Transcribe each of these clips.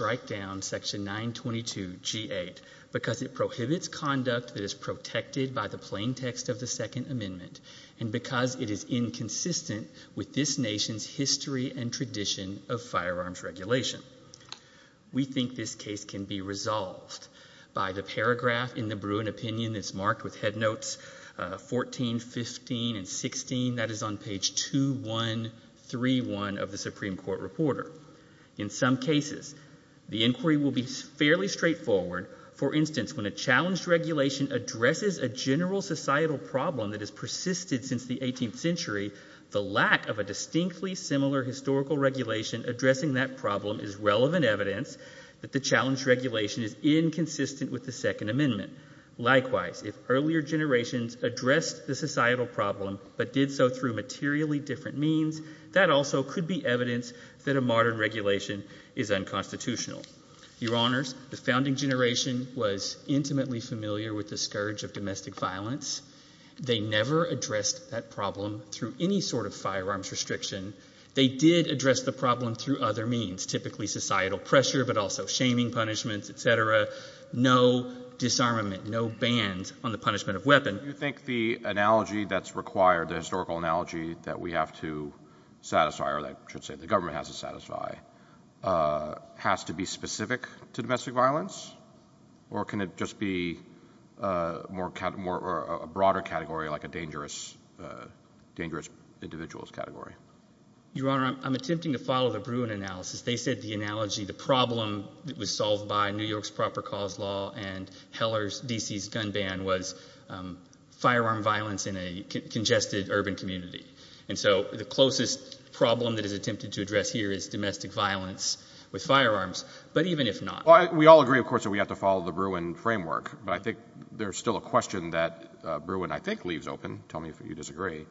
write down section 922 G8 because it prohibits conduct that is protected by the plain text of the second amendment and because it is inconsistent with this nation's history and tradition of firearms regulation. We think this case can be resolved by the paragraph in the Bruin opinion that's marked with headnotes 14, 15, and 16 that is on page 2131 of the The inquiry will be fairly straightforward. For instance, when a challenged regulation addresses a general societal problem that has persisted since the 18th century, the lack of a distinctly similar historical regulation addressing that problem is relevant evidence that the challenged regulation is inconsistent with the second amendment. Likewise, if earlier generations addressed the societal problem but did so through materially different means, that also could be evidence that a modern regulation is unconstitutional. Your honors, the founding generation was intimately familiar with the scourge of domestic violence. They never addressed that problem through any sort of firearms restriction. They did address the problem through other means, typically societal pressure but also shaming punishments, etc. No disarmament, no bans on the punishment of weapon. Your honor, do you think the analogy that's required, the historical analogy that we have to satisfy, or that I should say the government has to satisfy, has to be specific to domestic violence? Or can it just be a broader category like a dangerous individual's category? Your honor, I'm attempting to follow the Bruin analysis. They said the analogy, the problem that was solved by New York's proper cause law and Heller's, D.C.'s, gun ban was firearm violence in a congested urban community. And so the closest problem that is attempted to address here is domestic violence with firearms. But even if not... We all agree, of course, that we have to follow the Bruin framework. But I think there's still a question that Bruin I think leaves open, tell me if you disagree,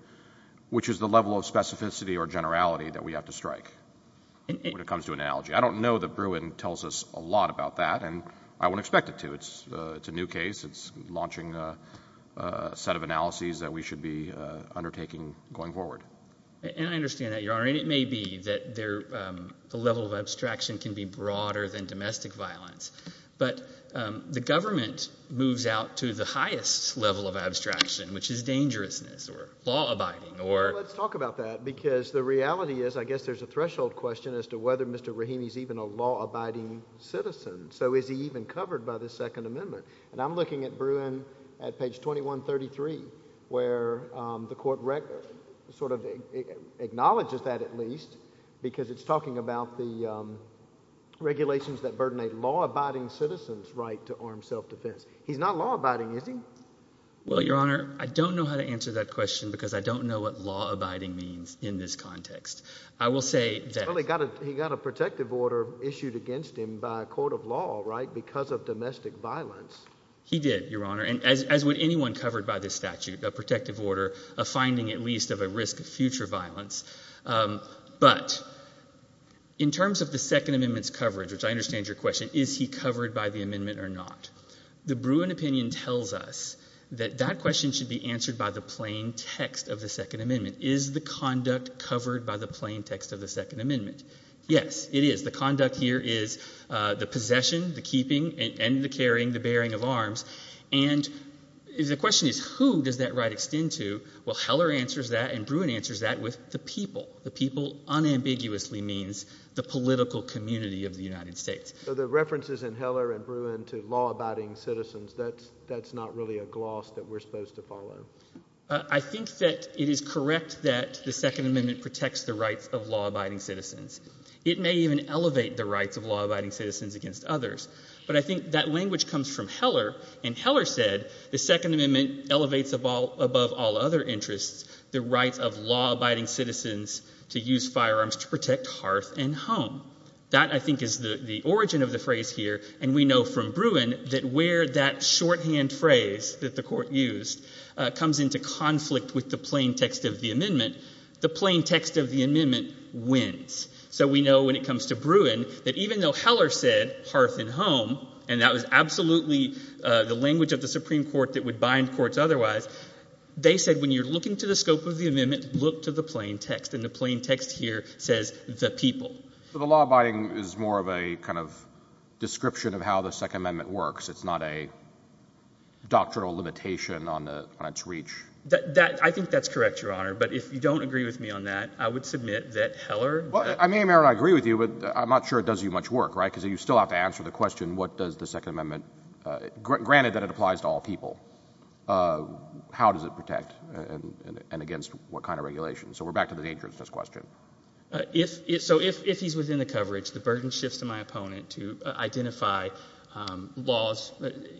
which is the level of specificity or generality that we have to strike when it comes to an analogy. I don't know that Bruin tells us a lot about that. And I wouldn't expect it to. It's a new case. It's launching a set of analyses that we should be undertaking going forward. And I understand that, your honor. And it may be that the level of abstraction can be broader than domestic violence. But the government moves out to the highest level of abstraction, which is dangerousness or law abiding or... Well, let's talk about that. Because the reality is, I guess there's a threshold question as to whether Mr. Rahimi is even a law abiding citizen. So is he even covered by the Second Amendment? And I'm looking at Bruin at page 2133, where the court sort of acknowledges that at least, because it's talking about the regulations that burden a law abiding citizen's right to armed self-defense. He's not law abiding, is he? Well, your honor, I don't know how to answer that question because I don't know what law abiding means in this context. I will say that... Well, he got a protective order issued against him by a court of law, right? Because of domestic violence. He did, your honor. And as would anyone covered by this statute, a protective order, a finding at least of a risk of future violence. But in terms of the Second Amendment's coverage, which I understand your question, is he covered by the amendment or not? The Bruin opinion tells us that that question should be answered by the plain text of the Second Amendment. Is the conduct covered by the plain text of the Second Amendment? Yes, it is. The conduct here is the possession, the keeping, and the carrying, the bearing of arms. And the question is who does that right extend to? Well, Heller answers that and Bruin answers that with the people. The people unambiguously means the political community of the United States. So the references in Heller and Bruin to law abiding citizens, that's not really a gloss that we're supposed to follow. I think that it is correct that the Second Amendment protects the rights of law abiding citizens. It may even elevate the rights of law abiding citizens against others. But I think that language comes from Heller, and Heller said the Second Amendment elevates above all other interests the rights of law abiding citizens to use firearms to protect hearth and home. That, I think, is the origin of the phrase here, and we know from Bruin that where that shorthand phrase that the Court used comes into conflict with the plain text of the amendment, the plain text of the amendment wins. So we know when it comes to Bruin that even though Heller said hearth and home, and that was absolutely the language of the Supreme Court that would bind courts otherwise, they said when you're looking to the scope of the amendment, look to the plain text, and the plain text here says the people. So the law abiding is more of a kind of description of how the Second Amendment works. It's not a doctrinal limitation on its reach? I think that's correct, Your Honor, but if you don't agree with me on that, I would submit that Heller... Well, I may or may not agree with you, but I'm not sure it does you much work, right? Because you still have to answer the question, what does the Second Amendment, granted that it applies to all people, how does it protect and against what kind of regulation? So we're back to the nature of this question. So if he's within the coverage, the burden shifts to my opponent to identify laws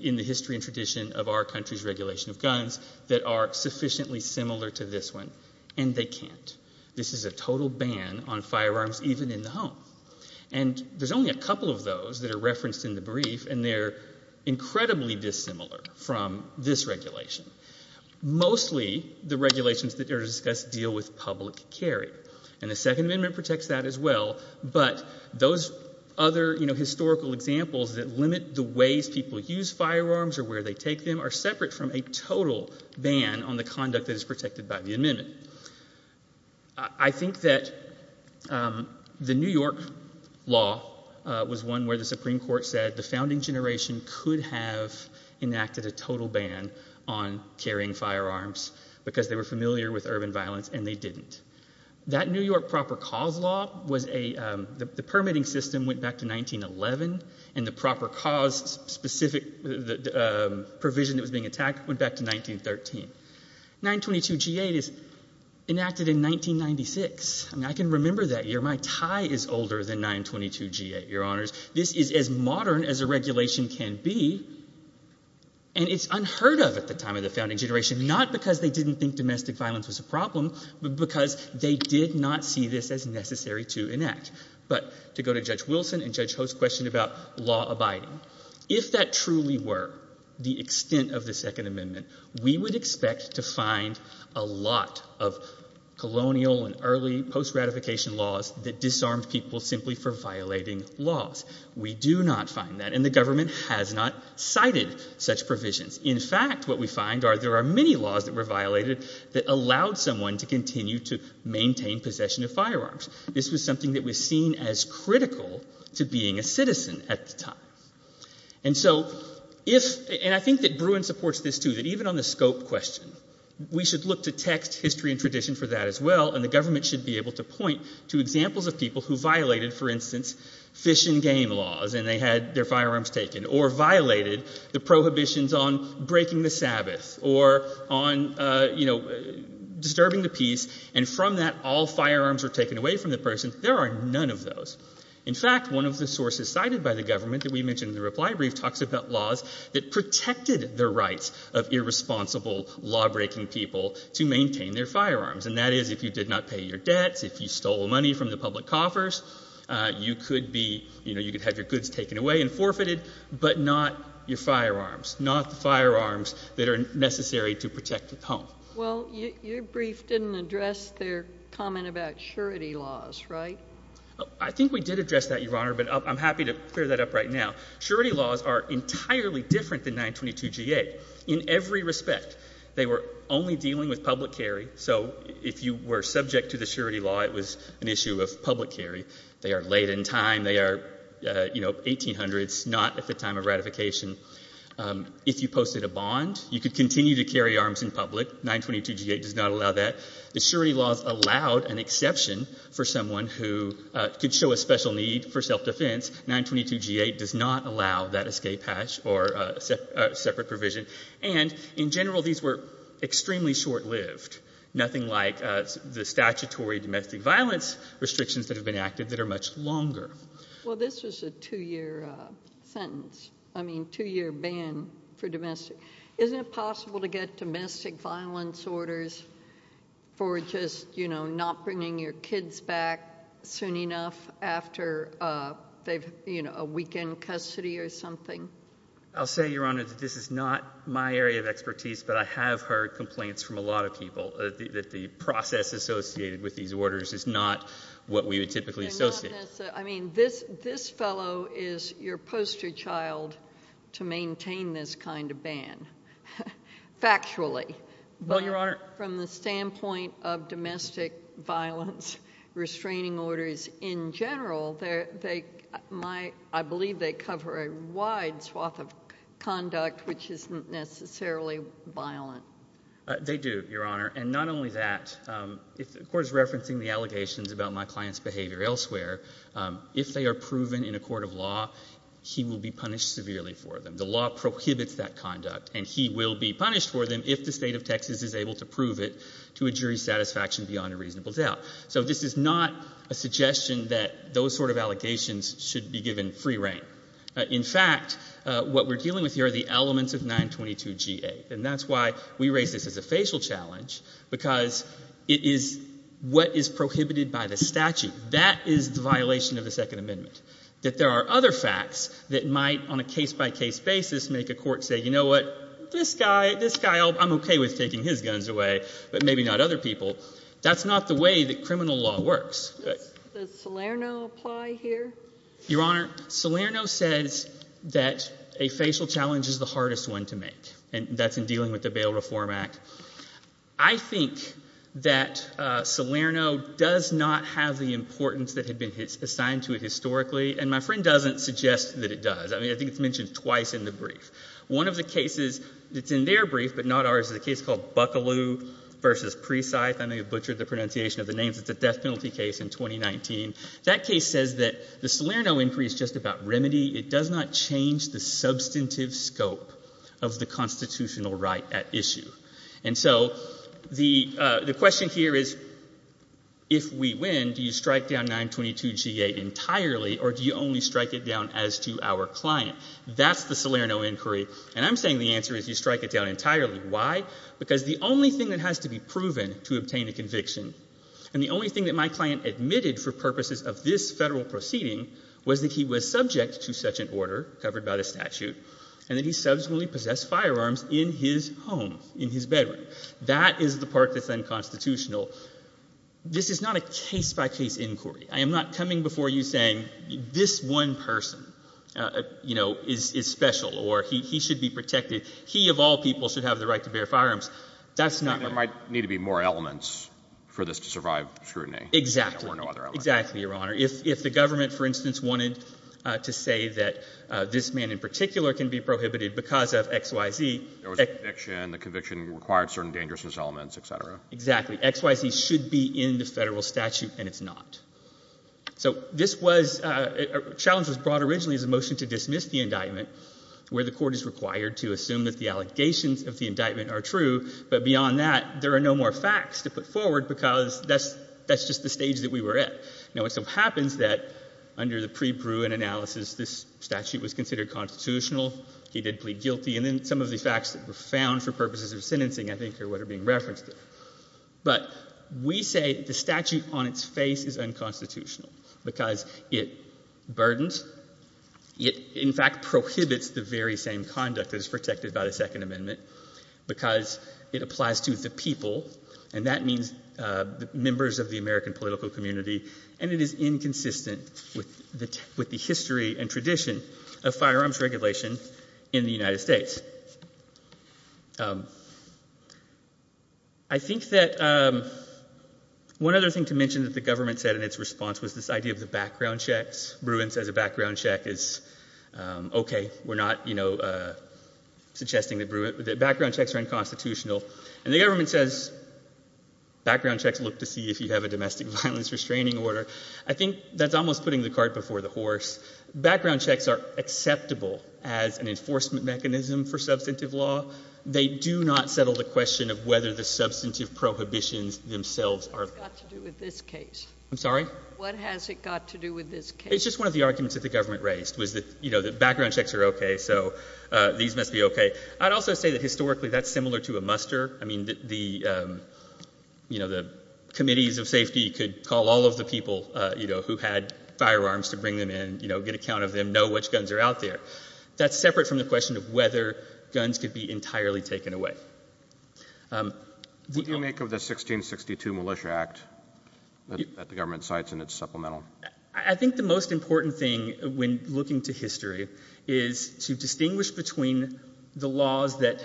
in the history and tradition of our country's regulation of guns that are sufficiently similar to this one, and they can't. This is a total ban on firearms even in the home. And there's only a couple of those that are referenced in the brief, and they're incredibly dissimilar from this regulation. Mostly, the regulations that are discussed deal with public carry, and the Second Amendment protects that as well, but those other historical examples that limit the ways people use firearms or where they take them are separate from a total ban on the conduct that is protected by the amendment. I think that the New York law was one where the Supreme Court said the founding generation could have enacted a total ban on carrying firearms because they were familiar with urban violence and they didn't. That New York proper cause law was a, the permitting system went back to 1911, and the proper cause specific provision that was being attacked went back to 1913. 922G8 is enacted in 1996. I mean, I can remember that year. My tie is older than 922G8, Your Honors. This is as modern as a regulation can be, and it's unheard of at the time of the founding generation, not because they didn't think domestic violence was a problem, but because they did not see this as necessary to enact. But to go to Judge Wilson and Judge Host's question about law abiding, if that truly were the extent of the Second Amendment, we would expect to find a lot of colonial and colonial-era provisions simply for violating laws. We do not find that, and the government has not cited such provisions. In fact, what we find are there are many laws that were violated that allowed someone to continue to maintain possession of firearms. This was something that was seen as critical to being a citizen at the time. And so, if, and I think that Bruin supports this too, that even on the scope question, we should look to text, history, and tradition for that as well, and the government should be able to point to for instance, fish and game laws, and they had their firearms taken, or violated the prohibitions on breaking the Sabbath, or on, you know, disturbing the peace, and from that all firearms were taken away from the person, there are none of those. In fact, one of the sources cited by the government that we mentioned in the reply brief talks about laws that protected the rights of irresponsible, law-breaking people to maintain their firearms, and that is if you did not pay your debts, if you stole money from the public coffers, you could be, you know, you could have your goods taken away and forfeited, but not your firearms, not the firearms that are necessary to protect the home. Well, your brief didn't address their comment about surety laws, right? I think we did address that, Your Honor, but I'm happy to clear that up right now. Surety laws are entirely different than 922 G.A. In every respect, they were only dealing with subject to the surety law, it was an issue of public carry. They are late in time, they are, you know, 1800s, not at the time of ratification. If you posted a bond, you could continue to carry arms in public. 922 G.A. does not allow that. The surety laws allowed an exception for someone who could show a special need for self-defense. 922 G.A. does not allow that escape hatch or separate provision. And in general, these were extremely short-lived. Nothing like the statutory domestic violence restrictions that have been acted that are much longer. Well, this was a two-year sentence. I mean, two-year ban for domestic. Isn't it possible to get domestic violence orders for just, you know, not bringing your kids back soon enough after they've, you know, a weekend custody or something? I'll say, Your Honor, that this is not my area of expertise, but I have heard complaints from a lot of people that the process associated with these orders is not what we would typically associate. I mean, this fellow is your poster child to maintain this kind of ban, factually. Well, Your Honor. But from the standpoint of domestic violence restraining orders in general, I believe they cover a wide swath of conduct which isn't necessarily violent. They do, Your Honor. And not only that, of course, referencing the allegations about my client's behavior elsewhere, if they are proven in a court of law, he will be punished severely for them. The law prohibits that conduct and he will be punished for them if the state of Texas is able to prove it to a jury's satisfaction beyond a reasonable doubt. So this is not a suggestion that those sort of allegations should be given free reign. In fact, what we're dealing with here are the elements of 922 G-8. And that's why we raise this as a facial challenge, because it is what is prohibited by the statute. That is the violation of the Second Amendment. That there are other facts that might, on a case-by-case basis, make a court say, you know what, this guy, this guy, I'm okay with taking his guns away, but maybe not other people. That's not the way that criminal law works. Does Salerno apply here? Your Honor, Salerno says that a facial challenge is the hardest one to make, and that's in dealing with the Bail Reform Act. I think that Salerno does not have the importance that had been assigned to it historically, and my friend doesn't suggest that it does. I mean, I think it's mentioned twice in the brief. One of the cases that's in their brief, but not ours, is a case called Buckaloo v. Presythe. I may have butchered the pronunciation of the names. It's a death penalty case in 2019. That case says that the Salerno inquiry is just about remedy. It does not change the substantive scope of the constitutional right at issue. And so the question here is, if we win, do you strike down 922g8 entirely, or do you only strike it down as to our client? That's the Salerno inquiry, and I'm saying the answer is you strike it down entirely. Why? Because the only thing that has to be admitted, and the only thing that my client admitted for purposes of this federal proceeding, was that he was subject to such an order, covered by the statute, and that he subsequently possessed firearms in his home, in his bedroom. That is the part that's unconstitutional. This is not a case-by-case inquiry. I am not coming before you saying this one person, you know, is special, or he should be protected. He, of all people, should have the right to bear firearms. That's not my point. But there might need to be more elements for this to survive scrutiny. Exactly. There were no other elements. Exactly, Your Honor. If the government, for instance, wanted to say that this man in particular can be prohibited because of X, Y, Z. There was a conviction. The conviction required certain dangerousness elements, et cetera. Exactly. X, Y, Z should be in the federal statute, and it's not. So this was, a challenge was brought originally as a motion to dismiss the indictment, where the court is required to assume that the allegations of the indictment are true, but beyond that, there are no more facts to put forward because that's just the stage that we were at. Now, it so happens that under the pre-Bruin analysis, this statute was considered constitutional. He did plead guilty. And then some of the facts that were found for purposes of sentencing, I think, are what are being referenced here. But we say the statute on its face is unconstitutional because it burdens. It, in fact, prohibits the very same conduct that is protected by the Second Amendment because it applies to the people, and that means the members of the American political community, and it is inconsistent with the history and tradition of firearms regulation in the United States. I think that one other thing to mention that the government said in its response was that this idea of the background checks, Bruin says a background check is okay. We're not, you know, suggesting that Bruin, that background checks are unconstitutional. And the government says background checks look to see if you have a domestic violence restraining order. I think that's almost putting the cart before the horse. Background checks are acceptable as an enforcement mechanism for substantive law. They do not settle the question of whether the substantive prohibitions themselves are. What's that got to do with this case? I'm sorry? What has it got to do with this case? It's just one of the arguments that the government raised was that, you know, that background checks are okay, so these must be okay. I'd also say that historically that's similar to a muster. I mean, the, you know, the committees of safety could call all of the people, you know, who had firearms to bring them in, you know, get a count of them, know which guns are out there. That's separate from the question of whether guns could be entirely taken away. What do you make of the 1662 Militia Act that the government cites in its supplemental? I think the most important thing when looking to history is to distinguish between the laws that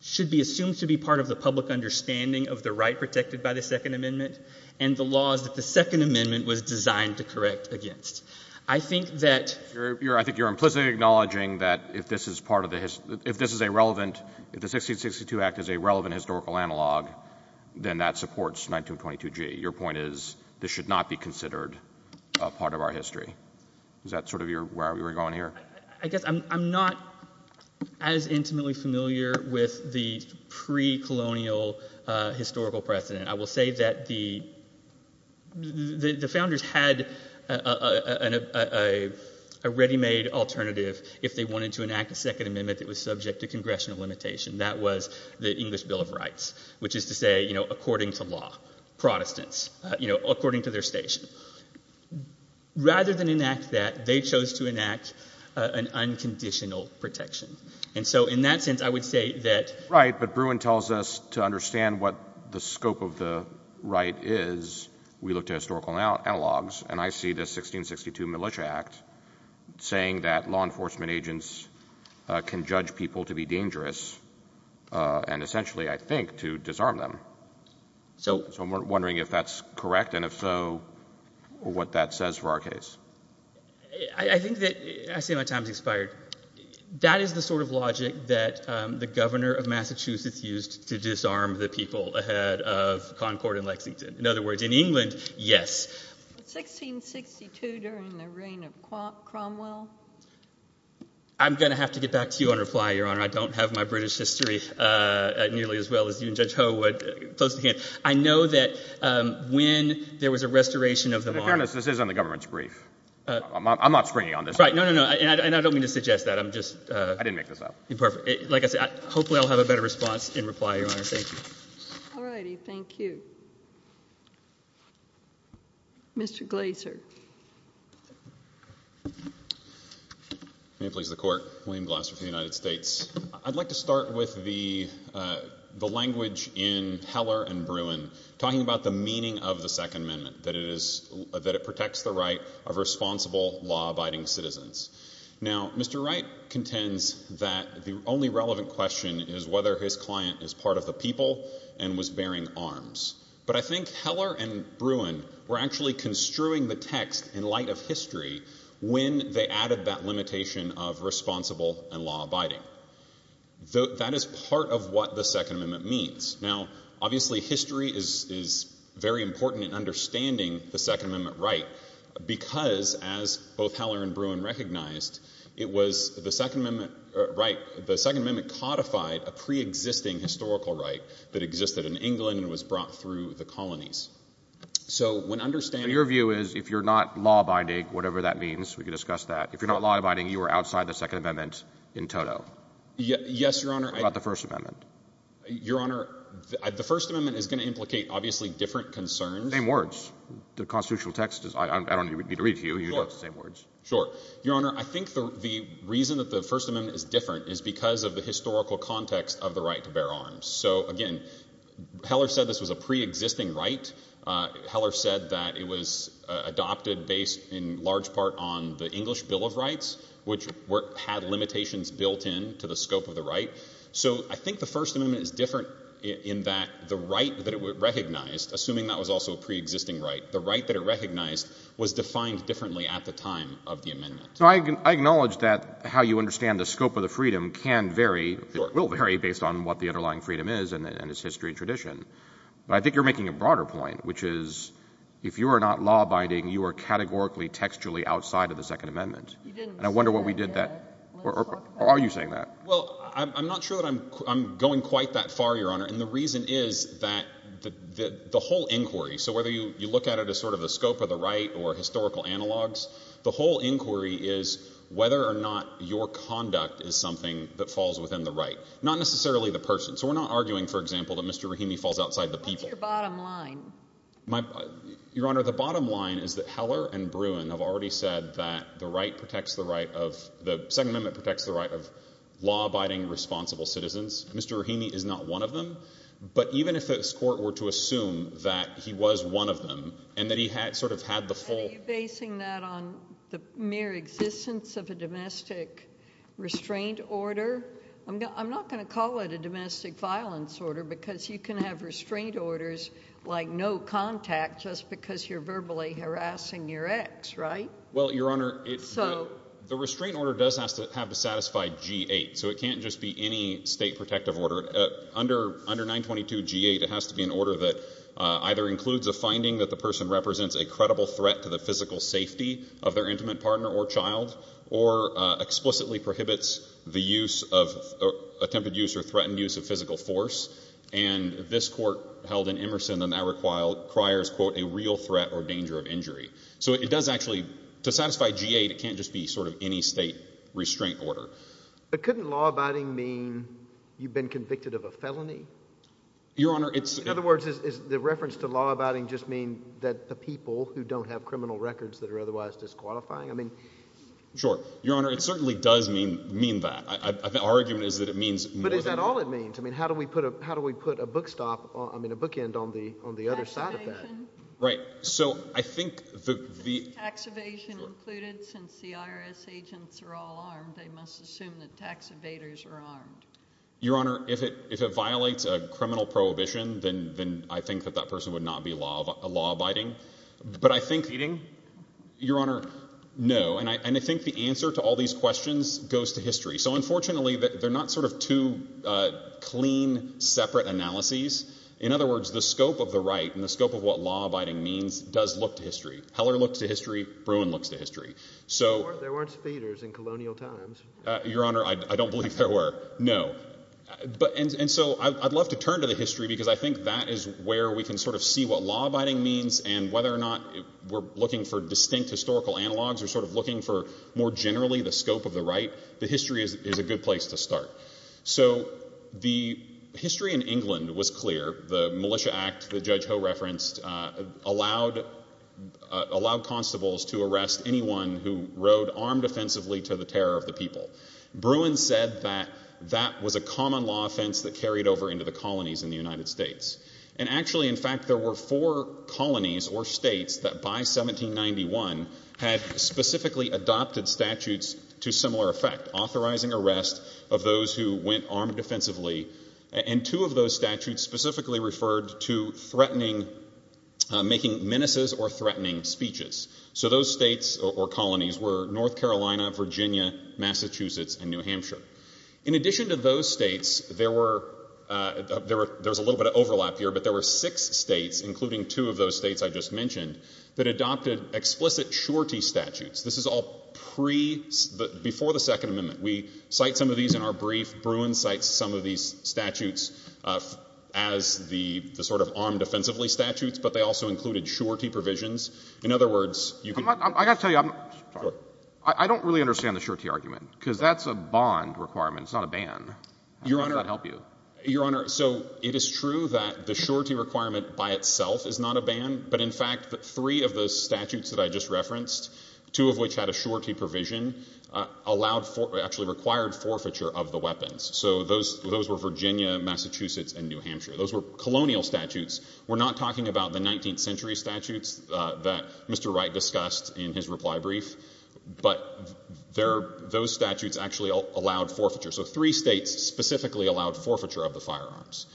should be assumed to be part of the public understanding of the right protected by the Second Amendment and the laws that the Second Amendment was designed to correct against. I think that... If the 1662 Act is a relevant historical analog, then that supports 1922G. Your point is this should not be considered a part of our history. Is that sort of where we're going here? I guess I'm not as intimately familiar with the pre-colonial historical precedent. I will say that the founders had a ready-made alternative if they wanted to enact a Second Amendment that was subject to congressional limitation. That was the English Bill of Rights, which is to say, you know, according to law, Protestants, you know, according to their station. Rather than enact that, they chose to enact an unconditional protection. And so in that sense, I would say that... Right, but Bruin tells us to understand what the scope of the right is, we look to historical analogs, and I see the 1662 Militia Act saying that law enforcement agents can judge people to be dangerous and essentially, I think, to disarm them. So I'm wondering if that's correct and if so, what that says for our case. I think that... I see my time's expired. That is the sort of logic that the governor of Massachusetts used to disarm the people ahead of Concord and Lexington. In other words, in England, yes. But 1662 during the reign of Cromwell? I'm going to have to get back to you on reply, Your Honor. I don't have my British history nearly as well as you and Judge Ho would. Close to hand. I know that when there was a restoration of the law... Your Honor, this is on the government's brief. I'm not springing on this. Right. No, no, no. And I don't mean to suggest that. I'm just... I didn't make this up. Perfect. Like I said, hopefully I'll have a better response in reply, Your Honor. Thank you. All righty. Thank you. Mr. Glaser. May it please the Court. William Glaser for the United States. I'd like to start with the language in Heller and Bruin talking about the meaning of the Second Amendment, that it is... that it protects the right of responsible, law-abiding citizens. Now, Mr. Wright contends that the only relevant question is whether his client is part of the people and was bearing arms. But I think Heller and Bruin were actually construing the text in light of history when they added that limitation of responsible and law-abiding. That is part of what the Second Amendment means. Now, obviously, history is very important in understanding the Second Amendment. Right. The Second Amendment codified a pre-existing historical right that existed in England and was brought through the colonies. So when understanding... So your view is, if you're not law-abiding, whatever that means, we can discuss that. If you're not law-abiding, you are outside the Second Amendment in total? Yes, Your Honor. What about the First Amendment? Your Honor, the First Amendment is going to implicate, obviously, different concerns. Same words. The constitutional text is... I don't need to read it to you. You know it's the same words. Sure. Your Honor, I think the reason that the First Amendment is different is because of the historical context of the right to bear arms. So, again, Heller said this was a pre-existing right. Heller said that it was adopted based in large part on the English Bill of Rights, which had limitations built in to the scope of the right. So I think the First Amendment is different in that the right that it recognized, assuming that was also a pre-existing right, the right that it recognized was defined differently at the time of the amendment. I acknowledge that how you understand the scope of the freedom can vary, will vary, based on what the underlying freedom is and its history and tradition. But I think you're making a broader point, which is, if you are not law-abiding, you are categorically, textually outside of the Second Amendment. You didn't say that. Or are you saying that? Well, I'm not sure that I'm going quite that far, Your Honor, and the reason is that the whole inquiry, so whether you look at it as sort of the scope of the right or historical analogs, the whole inquiry is whether or not your conduct is something that falls within the right, not necessarily the person. So we're not arguing, for example, that Mr. Rahimi falls outside the people. What's your bottom line? Your Honor, the bottom line is that Heller and Bruin have already said that the right protects the right of, the Second Amendment protects the right of law-abiding, responsible citizens. Mr. Rahimi is not one of them. But even if this Court were to assume that he was one of them, and that he had sort of had the full... Are you basing that on the mere existence of a domestic restraint order? I'm not going to call it a domestic violence order, because you can have restraint orders like no contact just because you're verbally harassing your ex, right? Well, Your Honor, the restraint order does have to satisfy G-8. So it can't just be any state protective order. Under 922 G-8, it has to be an order that either includes a finding that the person represents a credible threat to the physical safety of their intimate partner or child, or explicitly prohibits the use of, attempted use or threatened use of physical force. And this Court held in Emerson, and that requires, quote, a real threat or danger of injury. So it does actually, to satisfy G-8, it can't just be sort of any state restraint order. But couldn't law-abiding mean you've been convicted of a felony? Your Honor, it's... In other words, does the reference to law-abiding just mean that the people who don't have criminal records that are otherwise disqualifying? I mean... Sure. Your Honor, it certainly does mean that. Our argument is that it means more than that. But is that all it means? I mean, how do we put a book end on the other side of that? Tax evasion. Right. So I think the... I would assume that tax evaders are armed. Your Honor, if it violates a criminal prohibition, then I think that that person would not be law-abiding. But I think... Feeding? Your Honor, no. And I think the answer to all these questions goes to history. So unfortunately, they're not sort of two clean, separate analyses. In other words, the scope of the right and the scope of what law-abiding means does look to history. Heller looks to history. Bruin looks to history. There weren't evaders in colonial times. Your Honor, I don't believe there were. No. And so I'd love to turn to the history because I think that is where we can sort of see what law-abiding means and whether or not we're looking for distinct historical analogues or sort of looking for more generally the scope of the right. The history is a good place to start. So the history in England was clear. The Militia Act that Judge Ho referenced allowed constables to arrest anyone who rode armed offensively to the terror of the people. Bruin said that that was a common law offense that carried over into the colonies in the United States. And actually, in fact, there were four colonies or states that by 1791 had specifically adopted statutes to similar effect, authorizing arrest of those who went armed offensively. And two of those statutes specifically referred to threatening, making menaces or threatening speeches. So those states or colonies were North Carolina, Virginia, Massachusetts, and New Hampshire. In addition to those states, there was a little bit of overlap here, but there were six states, including two of those states I just mentioned, that adopted explicit surety statutes. This is all before the Second Amendment. We cite some of these in our brief. Bruin cites some of these statutes as the sort of armed offensively statutes, but they also included surety provisions. In other words, you can... I got to tell you, I don't really understand the surety argument, because that's a bond requirement. It's not a ban. How does that help you? Your Honor, so it is true that the surety requirement by itself is not a ban, but in fact, three of the statutes that I just referenced, two of which had a surety provision, actually required forfeiture of the weapons. So those were Virginia, Massachusetts, and New Hampshire. Those were colonial statutes. We're not talking about the 19th century statutes that Mr. Wright discussed in his reply brief, but those statutes actually allowed forfeiture. So three states specifically allowed forfeiture of the firearms.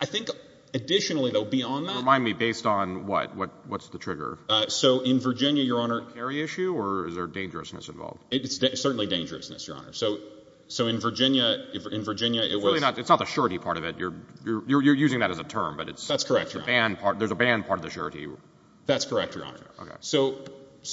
I think additionally, though, beyond that... Remind me, based on what? What's the trigger? So in Virginia, Your Honor... Is there a carry issue, or is there dangerousness involved? It's certainly dangerousness, Your Honor. So in Virginia, it was... It's not the surety part of it. You're using that as a term, but it's... That's correct, Your Honor. There's a ban part of the surety. That's correct, Your Honor. So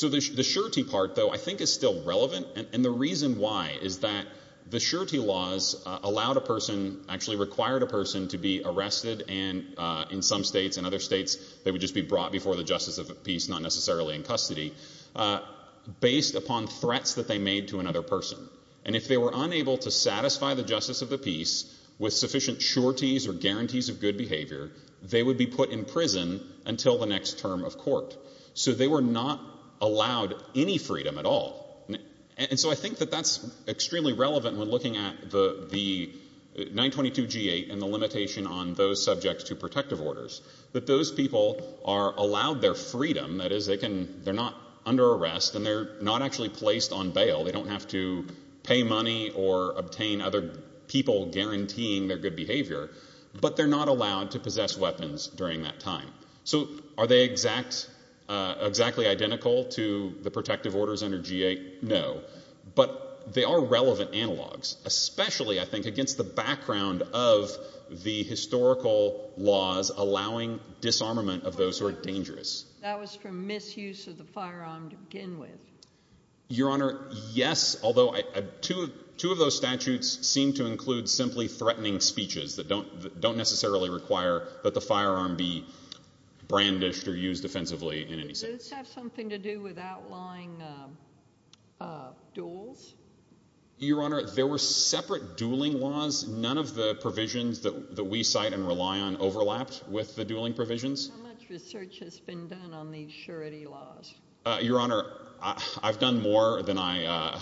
the surety part, though, I think is still relevant, and the reason why is that the surety laws allowed a person, actually required a person to be arrested in some states, in other states, they would just be brought before the justice of the peace, not necessarily in custody, based upon threats that they made to another person. And if they were unable to satisfy the justice of the peace with sufficient sureties or guarantees of good behavior, they would be put in prison until the next term of court. So they were not allowed any freedom at all. And so I think that that's extremely relevant when looking at the 922G8 and the limitation on those subjects to protective orders. That those people are allowed their freedom, that is, they're not under arrest, and they're not actually placed on bail. They don't have to pay money or obtain other people guaranteeing their good behavior, but they're not allowed to possess weapons during that time. So are they exactly identical to the protective orders under G8? No. But they are relevant analogs, especially, I think, against the background of the historical laws allowing disarmament of those who are dangerous. That was for misuse of the firearm to begin with. Your Honor, yes, although two of those statutes seem to include simply threatening speeches that don't necessarily require that the firearm be brandished or used offensively in any sense. Does this have something to do with outlying duels? Your Honor, there were separate dueling laws. None of the provisions that we cite and rely on overlapped with the dueling provisions. How much research has been done on these surety laws? Your Honor, I've done more than I...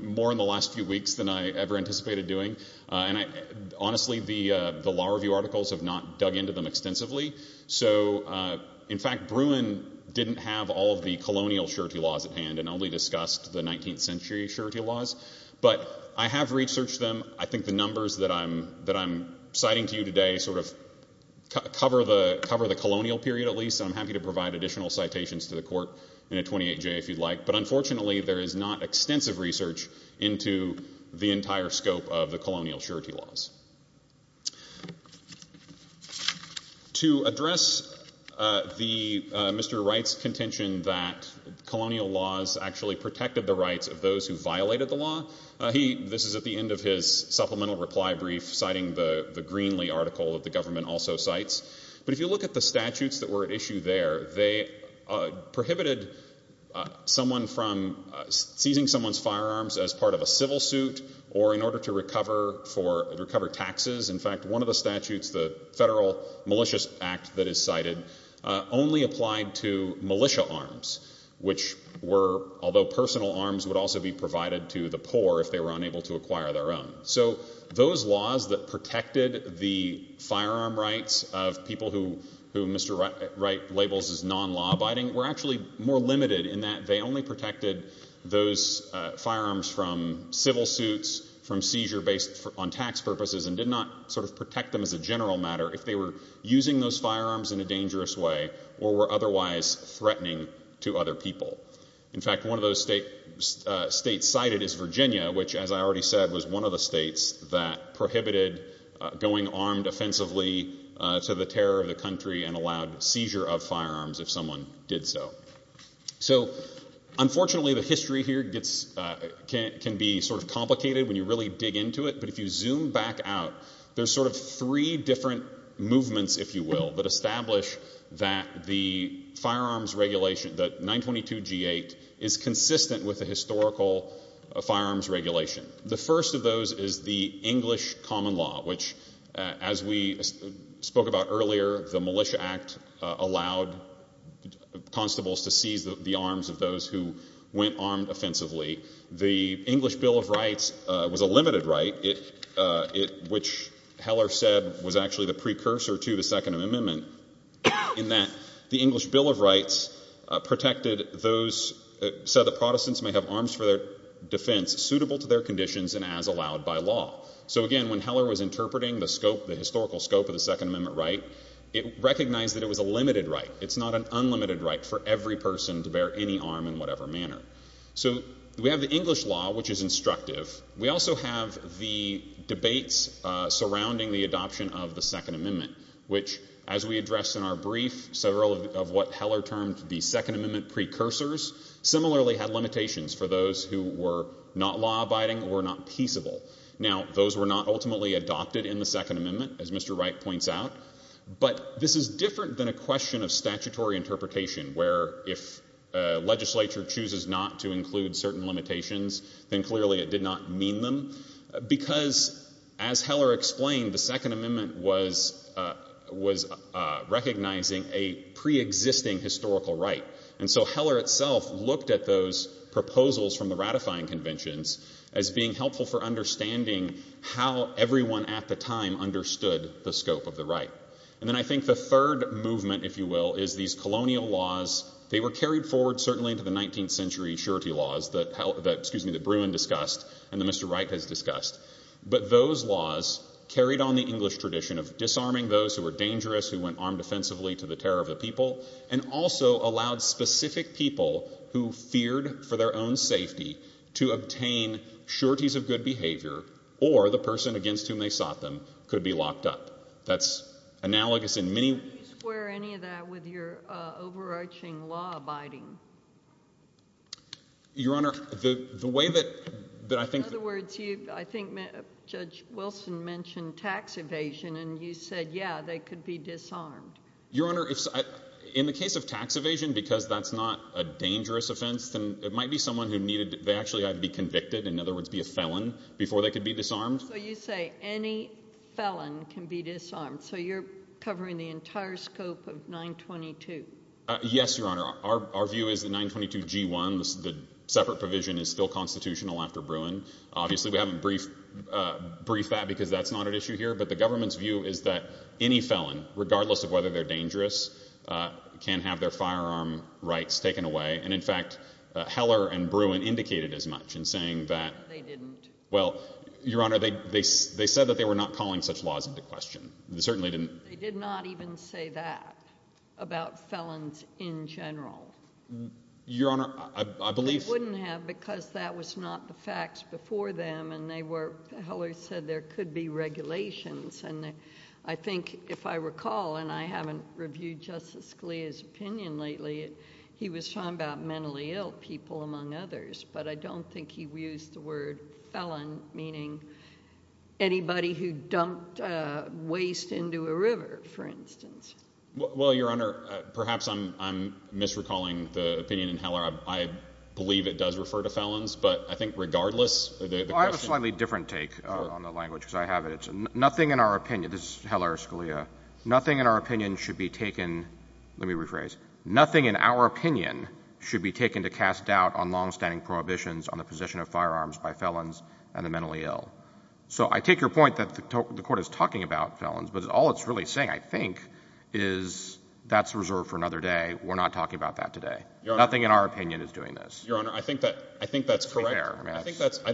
more in the last few weeks than I ever anticipated doing. Honestly, the law review articles have not dug into them extensively. So, in fact, Bruin didn't have all of the colonial surety laws at hand and only discussed the 19th century surety laws. But I have researched them. I think the numbers that I'm citing to you today sort of cover the colonial period at least. I'm happy to provide additional citations to the court in a 28-J if you'd like. But unfortunately, there is not extensive research into the entire scope of the colonial surety laws. To address the Mr. Wright's contention that colonial laws actually protected the rights of those who violated the law, this is at the end of his supplemental reply brief citing the Greenlee article that the government also cites. But if you look at the statutes that were at issue there, they prohibited someone from seizing someone's firearms as part of a civil suit or in order to recover taxes. In fact, one of the statutes, the Federal Malicious Act that is cited, only applied to militia arms, which were, although personal arms, would also be provided to the poor if they were unable to acquire their own. So those laws that protected the firearm rights of people who Mr. Wright labels as non-law-abiding were actually more limited in that they only protected those firearms from civil suits, from seizure based on tax purposes, and did not sort of protect them as a general matter if they were using those firearms in a dangerous way or were otherwise threatening to other people. In fact, one of those states cited is Virginia, which, as I already said, was one of the states that prohibited going armed offensively to the terror of the country and allowed seizure of firearms if someone did so. So, unfortunately, the history here can be sort of complicated when you really dig into it, but if you zoom back out, there's sort of three different movements, if you will, that establish that the firearms regulation, that 922G8, is consistent with the historical firearms regulation. The first of those is the English common law, which, as we spoke about earlier, the Militia Act allowed constables to seize the arms of those who went armed offensively. The English Bill of Rights was a limited right, which Heller said was actually the precursor to the Second Amendment, in that the English Bill of Rights said that Protestants may have arms for their defense suitable to their conditions and as allowed by law. So, again, when Heller was interpreting the historical scope of the Second Amendment right, it recognized that it was a limited right. It's not an unlimited right for every person to bear any arm in whatever manner. So we have the English law, which is instructive. We also have the debates surrounding the adoption of the Second Amendment, which, as we addressed in our brief, several of what Heller termed the Second Amendment precursors similarly had limitations for those who were not law-abiding or not peaceable. Now, those were not ultimately adopted in the Second Amendment, as Mr. Wright points out, but this is different than a question of statutory interpretation, where if a legislature chooses not to include certain limitations, then clearly it did not mean them, because, as Heller explained, the Second Amendment was recognizing a pre-existing historical right. And so Heller itself looked at those proposals from the ratifying conventions as being helpful for understanding how everyone at the time understood the scope of the right. And then I think the third movement, if you will, is these colonial laws. They were carried forward certainly into the 19th century surety laws that Bruin discussed and that Mr. Wright has discussed. But those laws carried on the English tradition of disarming those who were dangerous, who went armed offensively to the terror of the people, and also allowed specific people who feared for their own safety to obtain sureties of good behavior or the person against whom they sought them could be locked up. That's analogous in many... Did you square any of that with your overarching law abiding? Your Honor, the way that I think... In other words, I think Judge Wilson mentioned tax evasion and you said, yeah, they could be disarmed. Your Honor, in the case of tax evasion, because that's not a dangerous offense, then it might be someone who actually had to be convicted, in other words, be a felon, before they could be disarmed. So you say any felon can be disarmed. So you're covering the entire scope of 922. Yes, Your Honor. Our view is that 922 G1, the separate provision, is still constitutional after Bruin. Obviously we haven't briefed that because that's not an issue here, but the government's view is that any felon, regardless of whether they're dangerous, can have their firearm rights taken away. And in fact, Heller and Bruin indicated as much in saying that... They didn't. Well, Your Honor, they said that they were not calling such laws into question. They certainly didn't. They did not even say that about felons in general. Your Honor, I believe... They wouldn't have because that was not the facts before them and they were...Heller said there could be regulations and I think, if I recall, and I haven't reviewed Justice Scalia's opinion lately, he was talking about mentally ill people, among others, but I don't think he used the word felon, meaning anybody who dumped waste into a river, for instance. Well, Your Honor, perhaps I'm misrecalling the opinion in Heller. I believe it does refer to felons, but I think regardless... I have a slightly different take on the language because I have it. Nothing in our opinion... Let me rephrase. Nothing in our opinion should be taken to cast doubt on long-standing prohibitions on the possession of firearms by felons and the mentally ill. So I take your point that the Court is talking about felons, but all it's really saying, I think, is that's reserved for another day. We're not talking about that today. Nothing in our opinion is doing this. Your Honor, I think that's correct. I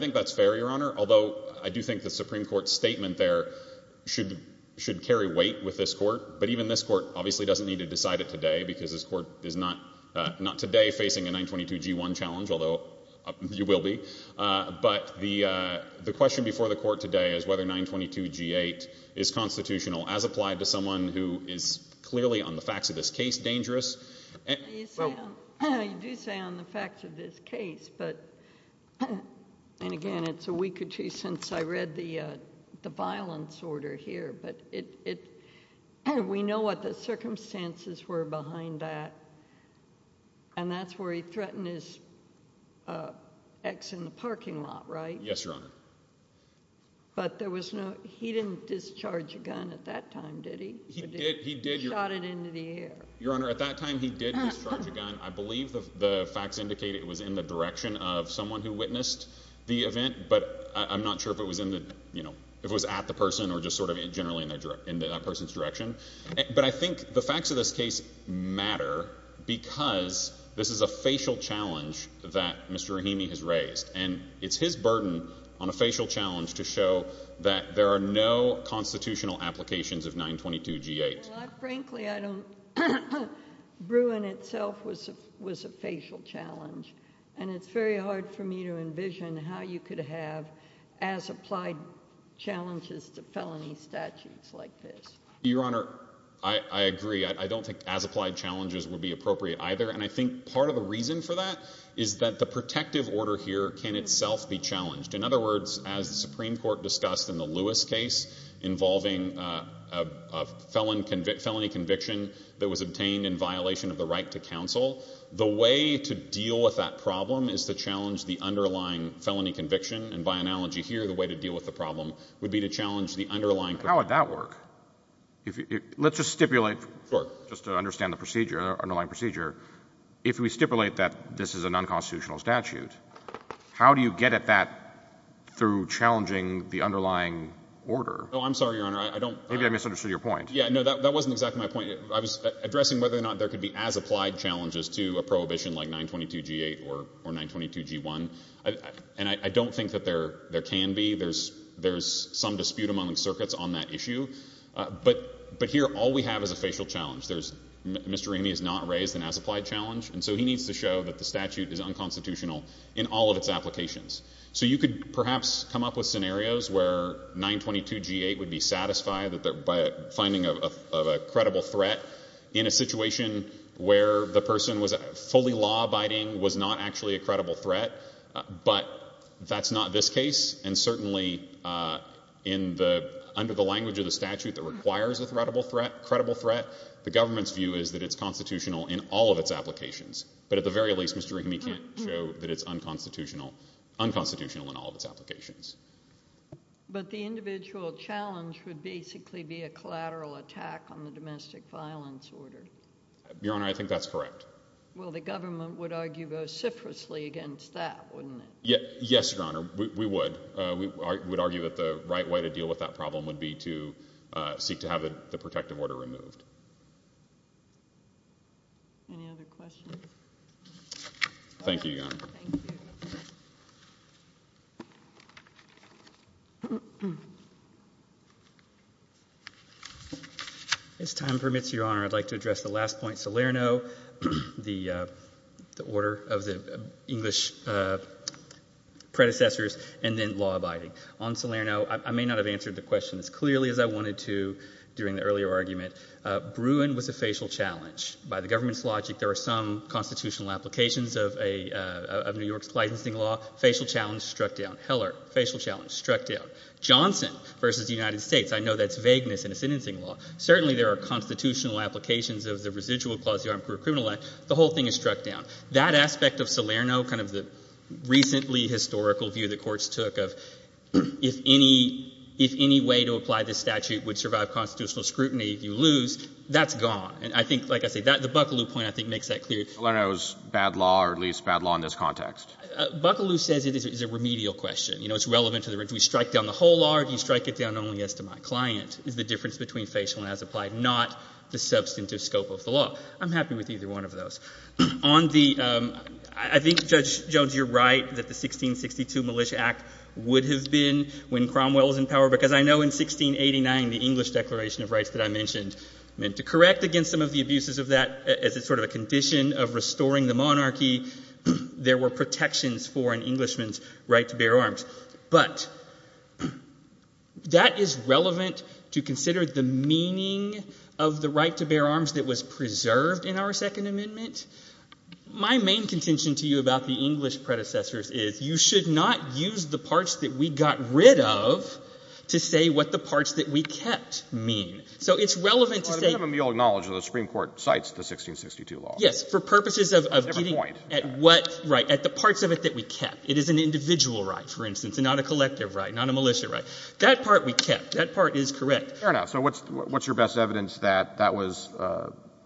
think that's fair, Your Honor, although I do think the Supreme Court's statement there should carry weight with this Court. But even this Court obviously doesn't need to decide it today because this Court is not today facing a 922g1 challenge, although you will be. But the question before the Court today is whether 922g8 is constitutional as applied to someone who is clearly, on the facts of this case, dangerous. You do say on the facts of this case, and again, it's a week or two since I read the violence order here, but we know what the circumstances were behind that. And that's where he threatened his ex in the parking lot, right? Yes, Your Honor. But he didn't discharge a gun at that time, did he? He shot it into the air. Your Honor, at that time, he did discharge a gun. I believe the facts indicate it was in the direction of someone who witnessed the event, but I'm not sure if it was at the person or just generally in that person's direction. But I think the facts of this case matter because this is a facial challenge that Mr. Rahimi has raised. And it's his burden on a facial challenge to show that there are no constitutional applications of 922g8. Frankly, Bruin itself was a facial challenge. And it's very hard for me to envision how you could have as-applied challenges to felony statutes like this. Your Honor, I agree. I don't think as-applied challenges would be appropriate either. And I think part of the reason for that is that the protective order here can itself be challenged. In other words, as the Supreme Court discussed in the Lewis case involving a felony conviction that was obtained in violation of the right to counsel, the way to deal with that problem is to challenge the underlying felony conviction. And by analogy here, the way to deal with the problem would be to challenge the underlying... How would that work? Let's just stipulate, just to understand the underlying procedure. If we stipulate that this is an unconstitutional statute, how do you get at that through challenging the underlying order? Oh, I'm sorry, Your Honor. Maybe I misunderstood your point. That wasn't exactly my point. I was addressing whether or not there could be as-applied challenges to a prohibition like 922g8 or 922g1. And I don't think that there can be. There's some dispute among the circuits on that issue. But here, all we have is a facial challenge. Mr. Ramey has not raised an as-applied challenge, and so he needs to show that the statute is unconstitutional in all of its applications. So you could perhaps come up with scenarios where 922g8 would be satisfied by finding a credible threat in a situation where the person was fully law-abiding was not actually a credible threat, but that's not this case. And certainly, under the language of the statute that requires a credible threat, the government's view is that it's constitutional in all of its applications. But at the very least, Mr. Ramey can't show that it's unconstitutional in all of its applications. But the individual challenge would basically be a collateral attack on the domestic violence order. Your Honor, I think that's correct. Well, the government would argue vociferously against that, wouldn't it? Yes, Your Honor, we would. We would argue that the right way to deal with that problem would be to seek to have the protective order removed. Any other questions? Thank you, Your Honor. If time permits, Your Honor, I'd like to address the last point, Salerno, the order of the English predecessors, and then law-abiding. On Salerno, I may not have answered the question as clearly as I wanted to during the earlier argument. Bruin was a facial challenge. By the government's logic, there are some constitutional applications of New York's licensing law. Heller, facial challenge, struck down. Johnson v. United States, I know that's vagueness in a sentencing law. Certainly, there are constitutional applications of the residual clause of the Armed Career Criminal Act. The whole thing is struck down. That aspect of Salerno, kind of the recently historical view the courts took of, if any way to apply this statute would survive constitutional scrutiny, if you lose, that's gone. The Buccaloo point, I think, makes that clear. Salerno is bad law, or at least bad law in this context. Buccaloo says it is a remedial question. Do we strike down the whole law, or do we strike it down only as to my client? Is the difference between facial and as applied not the substantive scope of the law? I'm happy with either one of those. I think, Judge Jones, you're right that the 1662 Militia Act would have been when Cromwell was in power, because I know in 1689 the English Declaration of Rights that I mentioned meant to correct against some of the abuses of that as sort of a condition of restoring the monarchy. There were protections for an Englishman's right to bear arms. But that is relevant to consider the meaning of the right to bear arms that was preserved in our Second Amendment. My main contention to you about the English predecessors is you should not use the parts that we got rid of to say what the parts that we kept mean. The Supreme Court cites the 1662 law. Yes, for purposes of getting at the parts of it that we kept. It is an individual right, for instance, and not a collective right, not a militia right. That part we kept. That part is correct. What's your best evidence that that was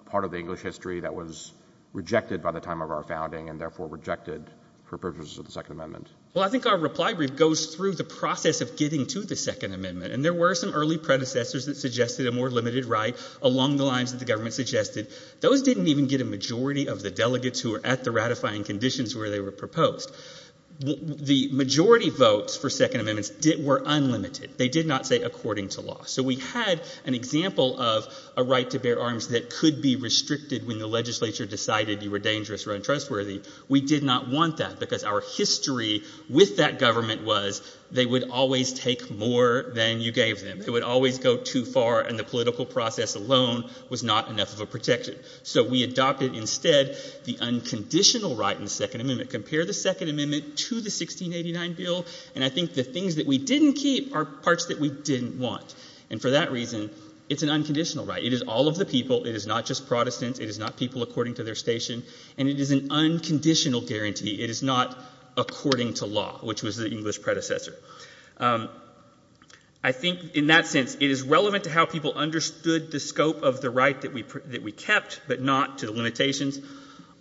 part of the English history that was rejected by the time of our founding and therefore rejected for purposes of the Second Amendment? I think our reply brief goes through the process of getting to the Second Amendment. There were some early predecessors that suggested a more limited right along the lines that the government suggested. Those didn't even get a majority of the delegates who were at the ratifying conditions where they were proposed. The majority votes for Second Amendments were unlimited. They did not say according to law. So we had an example of a right to bear arms that could be restricted when the legislature decided you were dangerous or untrustworthy. We did not want that because our history with that government was they would always take more than you gave them. It would always go too far and the political process alone was not enough of a protection. So we adopted instead the unconditional right in the Second Amendment. Compare the Second Amendment to the 1689 bill and I think the things that we didn't keep are parts that we didn't want. And for that reason, it's an unconditional right. It is all of the people. It is not just Protestants. It is not people according to their station. And it is an unconditional guarantee. It is not according to law, which was the English predecessor. I think in that sense, it is relevant to how people understood the scope of the right that we kept but not to the limitations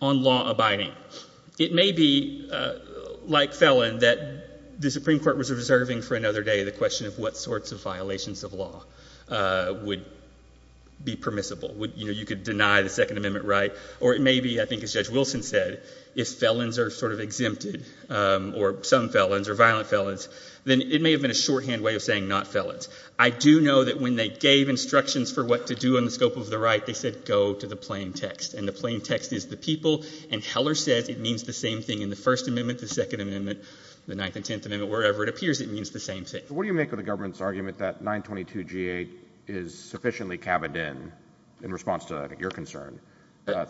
on law abiding. It may be like felon that the Supreme Court was observing for another day the question of what sorts of violations of law would be permissible. You could deny the Second Amendment right or it may be, as Judge Wilson said, if felons are sort of exempted or some felons or violent felons then it may have been a shorthand way of saying not felons. I do know that when they gave instructions for what to do on the scope of the right, they said go to the plain text. And the plain text is the people and Heller says it means the same thing in the First Amendment, the Second Amendment, the Ninth and Tenth Amendment wherever it appears it means the same thing. What do you make of the government's argument that 922G8 is sufficiently cabined in, in response to your concern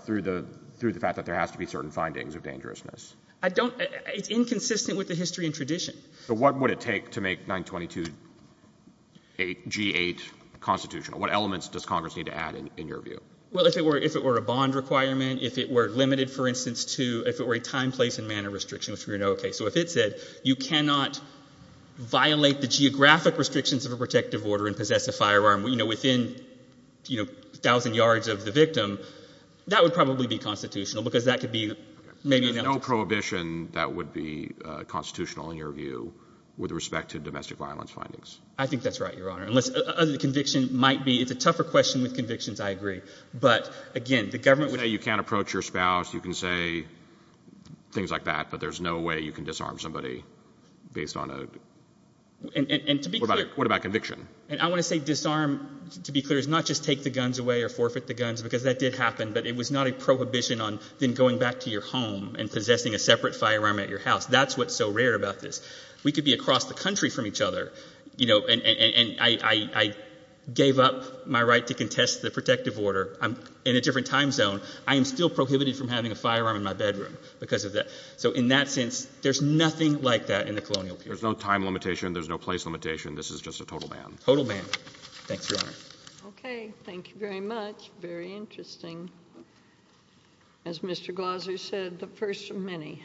through the fact that there has to be certain findings of dangerousness? It's inconsistent with the history and tradition. What would it take to make 922G8 constitutional? What elements does Congress need to add in your view? If it were a bond requirement, if it were limited for instance if it were a time, place and manner restriction so if it said you cannot violate the geographic restrictions of a protective order and possess a firearm within 1,000 yards of the victim that would probably be constitutional because that could be... There's no prohibition that would be constitutional in your view with respect to domestic violence findings. I think that's right, Your Honor. It's a tougher question with convictions, I agree. You can say you can't approach your spouse you can say things like that but there's no way you can disarm somebody based on a... What about conviction? I want to say disarm to be clear is not just take the guns away or forfeit the guns because that did happen but it was not a prohibition on then going back to your home and possessing a separate firearm at your house. That's what's so rare about this. We could be across the country from each other and I gave up my right to contest the protective order in a different time zone I am still prohibited from having a firearm in my bedroom so in that sense there's nothing like that in the colonial period. There's no time limitation, there's no place limitation this is just a total ban. Okay, thank you very much. Very interesting. As Mr. Glazer said, the first of many.